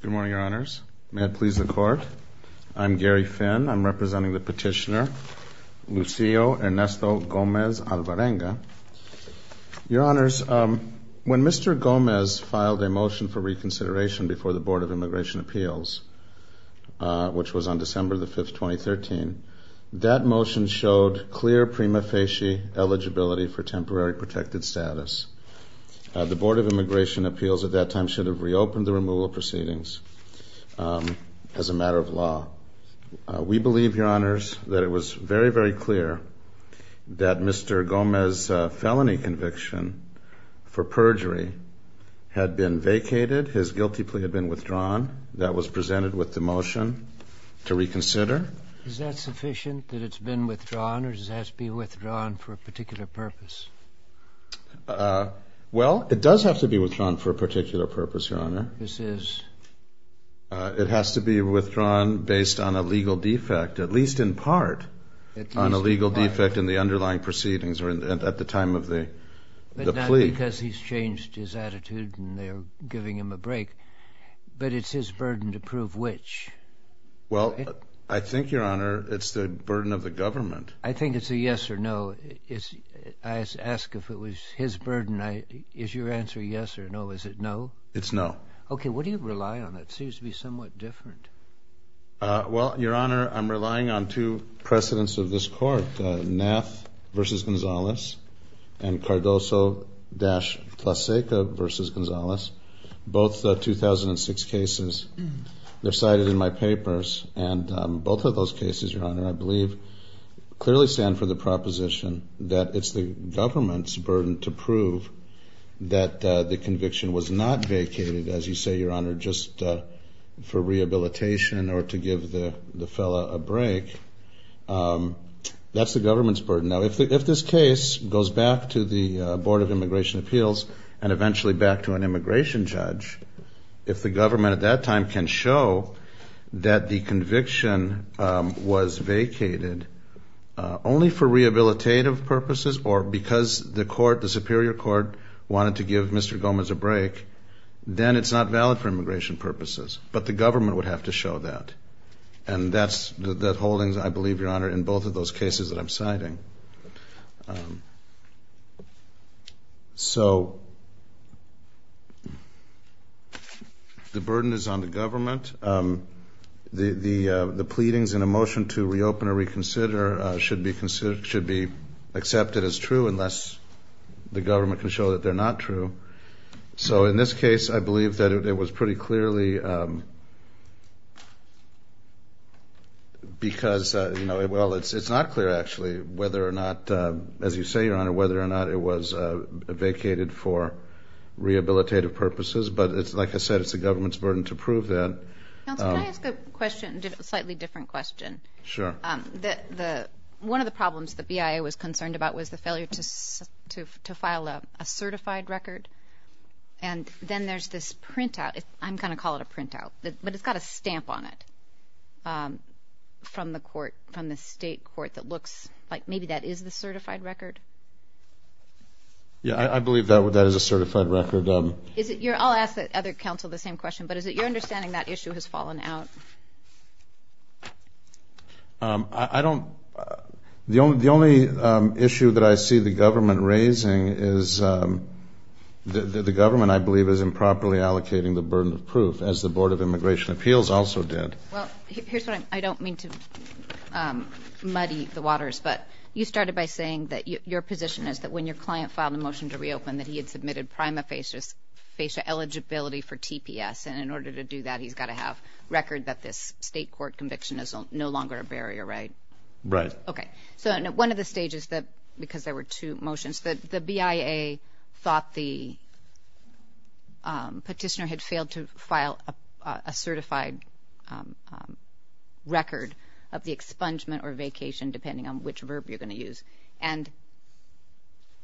Good morning, Your Honors. May it please the Court. I'm Gary Finn. I'm representing the petitioner, Lucio Ernesto Gomez Alvarenga. Your Honors, when Mr. Gomez filed a motion for reconsideration before the Board of Immigration Appeals, which was on December 5, 2013, that motion showed clear prima facie eligibility for temporary protected status. The Board of Immigration Appeals at that time should have reopened the removal proceedings as a matter of law. We believe, Your Honors, that it was very, very clear that Mr. Gomez's felony conviction for perjury had been vacated. His guilty plea had been withdrawn. That was presented with the motion to reconsider. Is that sufficient, that it's been withdrawn, or does it have to be withdrawn for a particular purpose? Well, it does have to be withdrawn for a particular purpose, Your Honor. This is? It has to be withdrawn based on a legal defect, at least in part on a legal defect in the underlying proceedings at the time of the plea. But not because he's changed his attitude and they're giving him a break, but it's his burden to prove which. Well, I think, Your Honor, it's the burden of the government. I think it's a yes or no. I ask if it was his burden. Is your answer yes or no? Is it no? It's no. Okay. What do you rely on? It seems to be somewhat different. Well, Your Honor, I'm relying on two precedents of this court, Nath v. Gonzalez and Cardoso-Tlaseka v. Gonzalez, both 2006 cases. They're cited in my papers. And both of those cases, Your Honor, I believe clearly stand for the proposition that it's the government's burden to prove that the conviction was not vacated, as you say, Your Honor, just for rehabilitation or to give the fellow a break. That's the government's burden. Now, if this case goes back to the Board of Immigration Appeals and eventually back to an immigration judge, if the government at that time can show that the conviction was vacated only for rehabilitative purposes or because the court, the Superior Court, wanted to give Mr. Gomez a break, then it's not valid for immigration purposes. But the government would have to show that. And that's the holdings, I believe, Your Honor, in both of those cases that I'm citing. The pleadings in a motion to reopen or reconsider should be accepted as true unless the government can show that they're not true. So in this case, I believe that it was pretty clearly because, well, it's not clear, actually, whether or not, as you say, Your Honor, whether or not it was vacated for rehabilitative purposes. But, like I said, it's the government's burden to prove that. Counsel, can I ask a question, a slightly different question? Sure. One of the problems the BIA was concerned about was the failure to file a certified record. And then there's this printout. I'm going to call it a printout, but it's got a stamp on it from the court, from the state court, that looks like maybe that is the certified record. Yeah, I believe that is a certified record. I'll ask the other counsel the same question, but is it your understanding that issue has fallen out? I don't ‑‑ the only issue that I see the government raising is that the government, I believe, is improperly allocating the burden of proof, as the Board of Immigration Appeals also did. Well, here's what I don't mean to muddy the waters, but you started by saying that your position is that when your client filed a motion to reopen, that he had submitted prima facie eligibility for TPS, and in order to do that, he's got to have record that this state court conviction is no longer a barrier, right? Right. Okay. So one of the stages, because there were two motions, the BIA thought the petitioner had failed to file a certified record of the expungement or vacation, depending on which verb you're going to use. And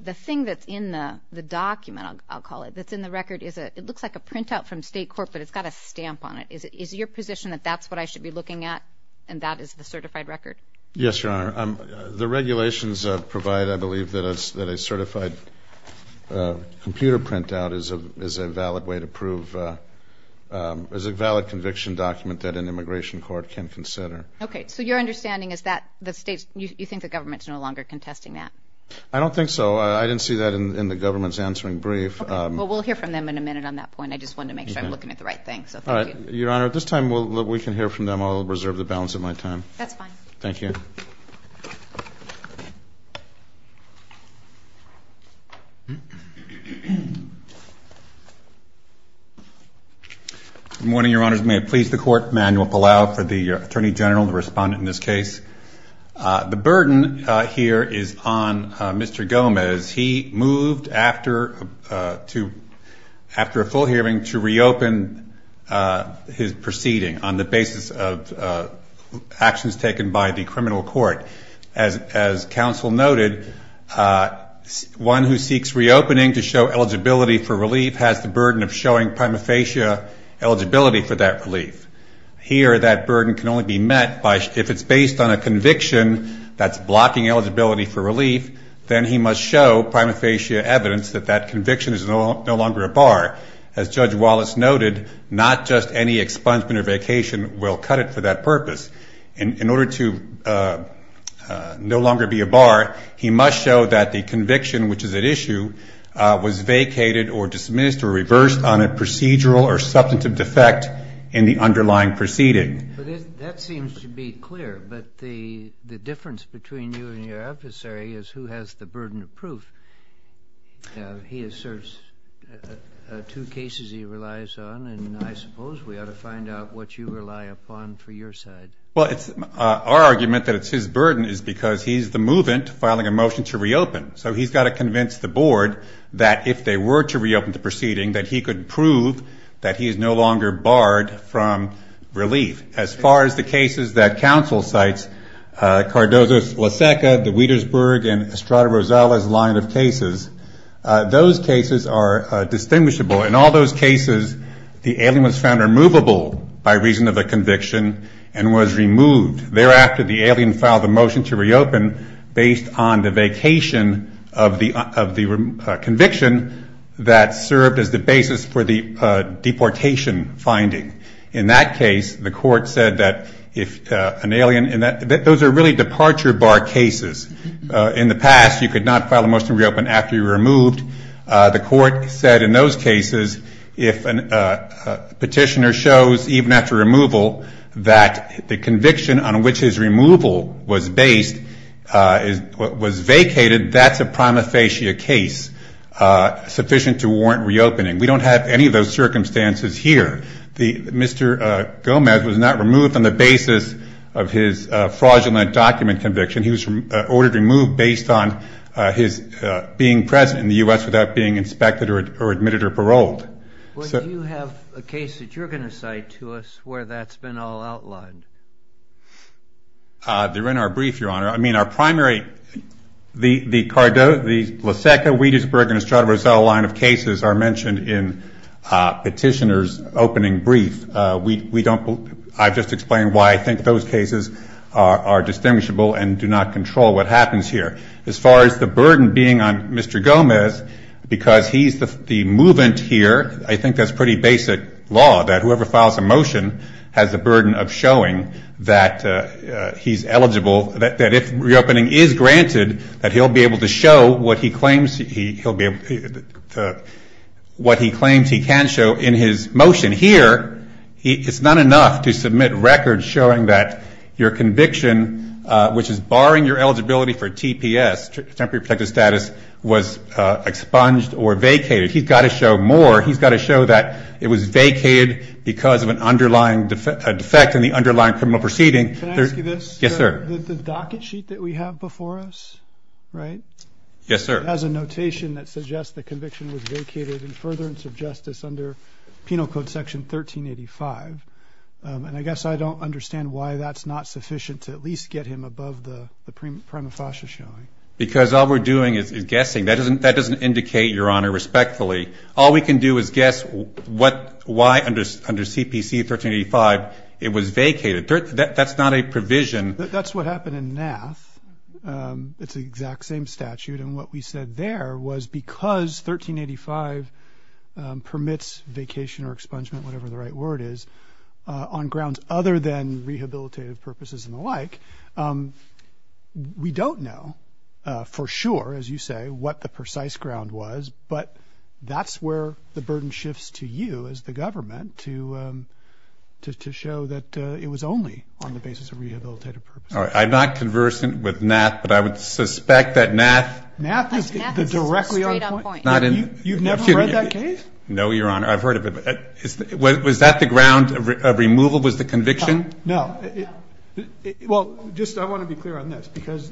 the thing that's in the document, I'll call it, that's in the record, it looks like a printout from state court, but it's got a stamp on it. Is it your position that that's what I should be looking at, and that is the certified record? Yes, Your Honor. The regulations provide, I believe, that a certified computer printout is a valid way to prove ‑‑ is a valid conviction document that an immigration court can consider. Okay. So your understanding is that you think the government is no longer contesting that? I don't think so. I didn't see that in the government's answering brief. Okay. Well, we'll hear from them in a minute on that point. I just wanted to make sure I'm looking at the right thing, so thank you. Your Honor, at this time, we can hear from them. I'll reserve the balance of my time. That's fine. Thank you. Good morning, Your Honors. May it please the Court, Manuel Palau for the Attorney General, the respondent in this case. The burden here is on Mr. Gomez. He moved after a full hearing to reopen his proceeding on the basis of actions taken by the criminal court. As counsel noted, one who seeks reopening to show eligibility for relief has the burden of showing prima facie eligibility for that relief. Here, that burden can only be met if it's based on a conviction that's blocking eligibility for relief, then he must show prima facie evidence that that conviction is no longer a bar. As Judge Wallace noted, not just any expungement or vacation will cut it for that purpose. In order to no longer be a bar, he must show that the conviction, which is at issue, was vacated or dismissed or reversed on a procedural or substantive defect in the underlying proceeding. That seems to be clear, but the difference between you and your adversary is who has the burden of proof. He asserts two cases he relies on, and I suppose we ought to find out what you rely upon for your side. Well, our argument that it's his burden is because he's the movant filing a motion to reopen. So he's got to convince the board that if they were to reopen the proceeding, that he could prove that he is no longer barred from relief. As far as the cases that counsel cites, Cardozo's Laseca, the Wietersburg, and Estrada Rosales line of cases, those cases are distinguishable. In all those cases, the alien was found removable by reason of a conviction and was removed. Thereafter, the alien filed a motion to reopen based on the vacation of the conviction that served as the basis for the deportation finding. In that case, the court said that if an alien – those are really departure bar cases. In the past, you could not file a motion to reopen after you were removed. The court said in those cases, if a petitioner shows, even after removal, that the conviction on which his removal was based was vacated, that's a prima facie case sufficient to warrant reopening. We don't have any of those circumstances here. Mr. Gomez was not removed on the basis of his fraudulent document conviction. He was ordered removed based on his being present in the U.S. without being inspected or admitted or paroled. Do you have a case that you're going to cite to us where that's been all outlined? They're in our brief, Your Honor. I mean, our primary – the Laseca, Wietersburg, and Estrada Rosales line of cases are mentioned in Petitioner's opening brief. I've just explained why I think those cases are distinguishable and do not control what happens here. As far as the burden being on Mr. Gomez, because he's the movant here, I think that's pretty basic law, that whoever files a motion has the burden of showing that he's eligible, that if reopening is granted, that he'll be able to show what he claims he can show in his motion. And here, it's not enough to submit records showing that your conviction, which is barring your eligibility for TPS, temporary protective status, was expunged or vacated. He's got to show more. He's got to show that it was vacated because of an underlying defect in the underlying criminal proceeding. Can I ask you this? Yes, sir. The docket sheet that we have before us, right? Yes, sir. It has a notation that suggests the conviction was vacated in furtherance of justice under Penal Code Section 1385. And I guess I don't understand why that's not sufficient to at least get him above the prima facie showing. Because all we're doing is guessing. That doesn't indicate, Your Honor, respectfully. All we can do is guess why under CPC 1385 it was vacated. That's not a provision. That's what happened in NAAF. It's the exact same statute. And what we said there was because 1385 permits vacation or expungement, whatever the right word is, on grounds other than rehabilitative purposes and the like, we don't know for sure, as you say, what the precise ground was. But that's where the burden shifts to you as the government to show that it was only on the basis of rehabilitative purposes. I'm not conversant with NAAF, but I would suspect that NAAF is the directly on point. You've never read that case? No, Your Honor. I've heard of it. Was that the ground of removal was the conviction? No. Well, just I want to be clear on this because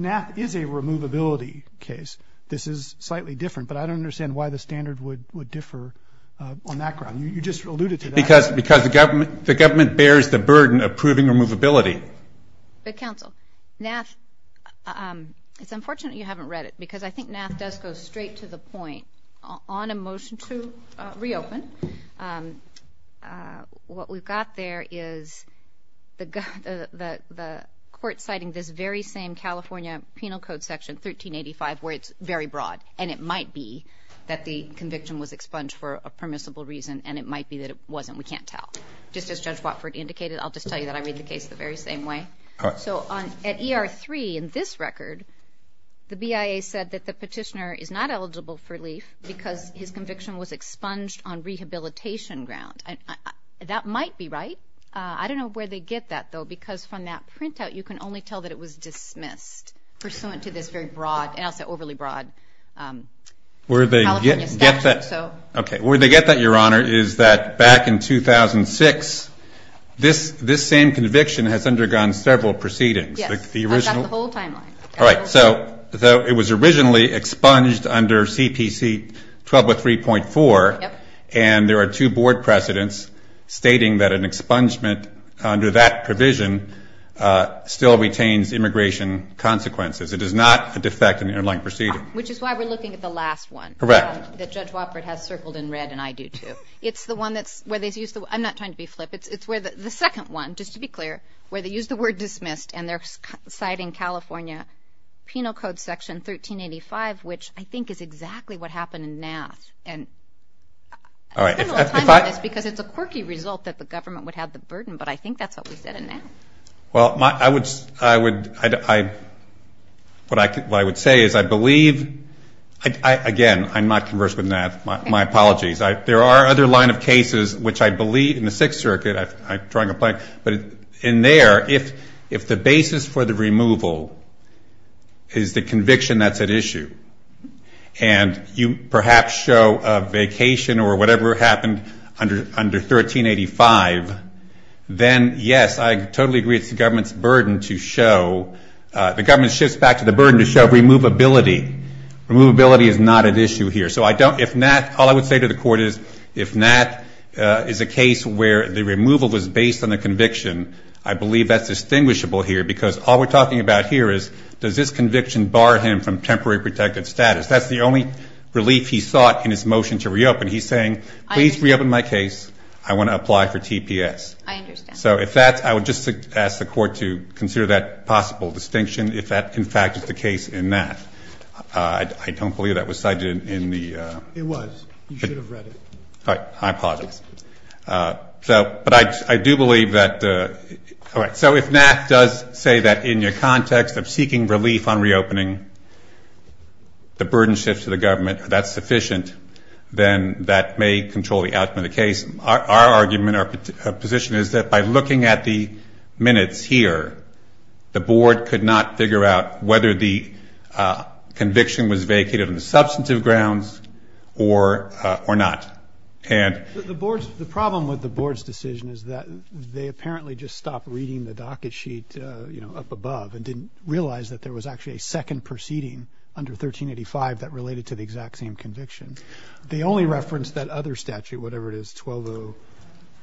NAAF is a removability case. This is slightly different, but I don't understand why the standard would differ on that ground. You just alluded to that. Because the government bears the burden of proving removability. But, counsel, NAAF, it's unfortunate you haven't read it because I think NAAF does go straight to the point. On a motion to reopen, what we've got there is the court citing this very same California Penal Code section, 1385, where it's very broad and it might be that the conviction was expunged for a permissible reason and it might be that it wasn't. We can't tell. Just as Judge Watford indicated, I'll just tell you that I read the case the very same way. So at ER 3, in this record, the BIA said that the petitioner is not eligible for relief because his conviction was expunged on rehabilitation ground. That might be right. I don't know where they get that, though, because from that printout you can only tell that it was dismissed, pursuant to this very broad, and I'll say overly broad, California statute. Okay. Where they get that, Your Honor, is that back in 2006, this same conviction has undergone several proceedings. Yes. I've got the whole timeline. All right. So it was originally expunged under CPC 1203.4, and there are two board precedents stating that an expungement under that provision still retains immigration consequences. It is not a defect in the inline proceeding. Which is why we're looking at the last one. Correct. That Judge Wofford has circled in red, and I do, too. It's the one that's where they use the word. I'm not trying to be flip. It's where the second one, just to be clear, where they use the word dismissed and they're citing California Penal Code Section 1385, which I think is exactly what happened in Nass. All right. I spent a little time on this because it's a quirky result that the government would have the burden, but I think that's what we said in Nass. Well, I would say is I believe, again, I'm not conversant in that. My apologies. There are other line of cases which I believe in the Sixth Circuit, but in there, if the basis for the removal is the conviction that's at issue, and you perhaps show a vacation or whatever happened under 1385, then, yes, I totally agree it's the government's burden to show. The government shifts back to the burden to show removability. Removability is not at issue here. So if Nass, all I would say to the court is if Nass is a case where the removal was based on the conviction, I believe that's distinguishable here because all we're talking about here is does this conviction bar him from temporary protective status? That's the only relief he sought in his motion to reopen. He's saying, please reopen my case. I want to apply for TPS. I understand. So if that's, I would just ask the court to consider that possible distinction if that, in fact, is the case in Nass. I don't believe that was cited in the. It was. You should have read it. All right. I apologize. But I do believe that. All right. So if Nass does say that in your context of seeking relief on reopening, the burden shifts to the government, that's sufficient, then that may control the outcome of the case. Our argument, our position is that by looking at the minutes here, the board could not figure out whether the conviction was vacated on substantive grounds or not. And. The board's, the problem with the board's decision is that they apparently just stopped reading the docket sheet, you know, up above and didn't realize that there was actually a second proceeding under 1385 that related to the exact same conviction. The only reference that other statute, whatever it is, 12 0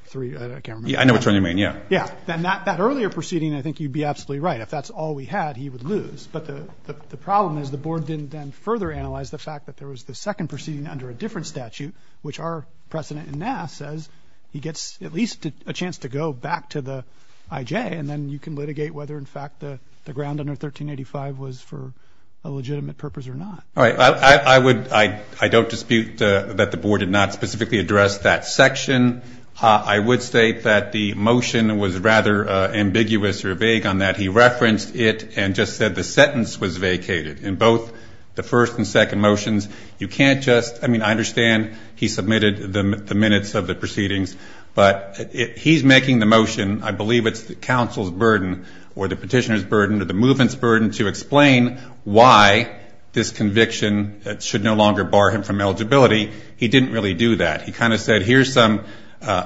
3. I can't remember. I know what you mean. Yeah. Yeah. Then that earlier proceeding, I think you'd be absolutely right. If that's all we had, he would lose. But the problem is the board didn't then further analyze the fact that there was the second proceeding under a different statute, which are precedent in NASA as he gets at least a chance to go back to the IJ. And then you can litigate whether, in fact, the ground under 1385 was for a legitimate purpose or not. All right. I would. I don't dispute that the board did not specifically address that section. I would state that the motion was rather ambiguous or vague on that. He referenced it and just said the sentence was vacated in both the first and second motions. You can't just ‑‑ I mean, I understand he submitted the minutes of the proceedings, but he's making the motion, I believe it's the council's burden or the petitioner's burden or the movement's burden to explain why this conviction should no longer bar him from eligibility. He didn't really do that. He kind of said here's some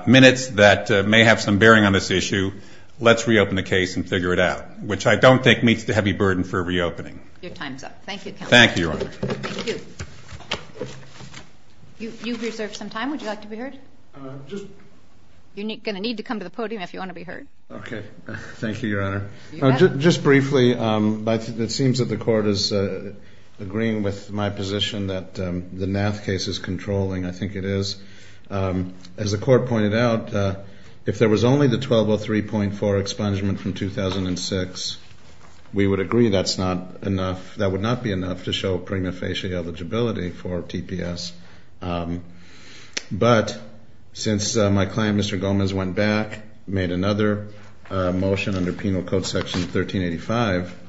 minutes that may have some bearing on this issue. Let's reopen the case and figure it out, which I don't think meets the heavy burden for reopening. Your time is up. Thank you, counsel. Thank you, Your Honor. Thank you. You've reserved some time. Would you like to be heard? You're going to need to come to the podium if you want to be heard. Okay. Thank you, Your Honor. Just briefly, it seems that the court is agreeing with my position that the Nath case is controlling. I think it is. As the court pointed out, if there was only the 1203.4 expungement from 2006, we would agree that would not be enough to show prima facie eligibility for TPS. But since my client, Mr. Gomez, went back, made another motion under Penal Code Section 1385,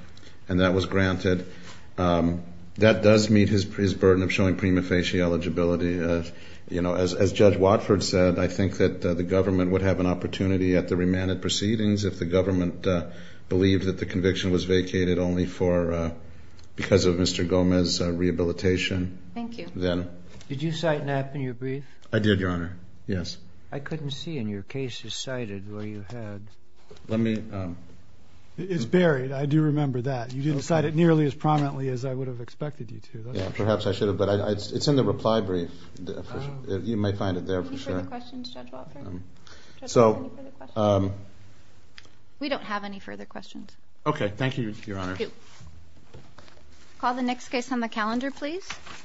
and that was granted, that does meet his burden of showing prima facie eligibility. As Judge Watford said, I think that the government would have an opportunity at the remanded proceedings if the government believed that the conviction was vacated only because of Mr. Gomez's rehabilitation. Thank you. Did you cite Nath in your brief? I did, Your Honor. Yes. I couldn't see in your cases cited where you had. It's buried. I do remember that. You didn't cite it nearly as prominently as I would have expected you to. Perhaps I should have, but it's in the reply brief. You might find it there for sure. Any further questions, Judge Watford? We don't have any further questions. Okay. Thank you, Your Honor. Thank you. Call the next case on the calendar, please.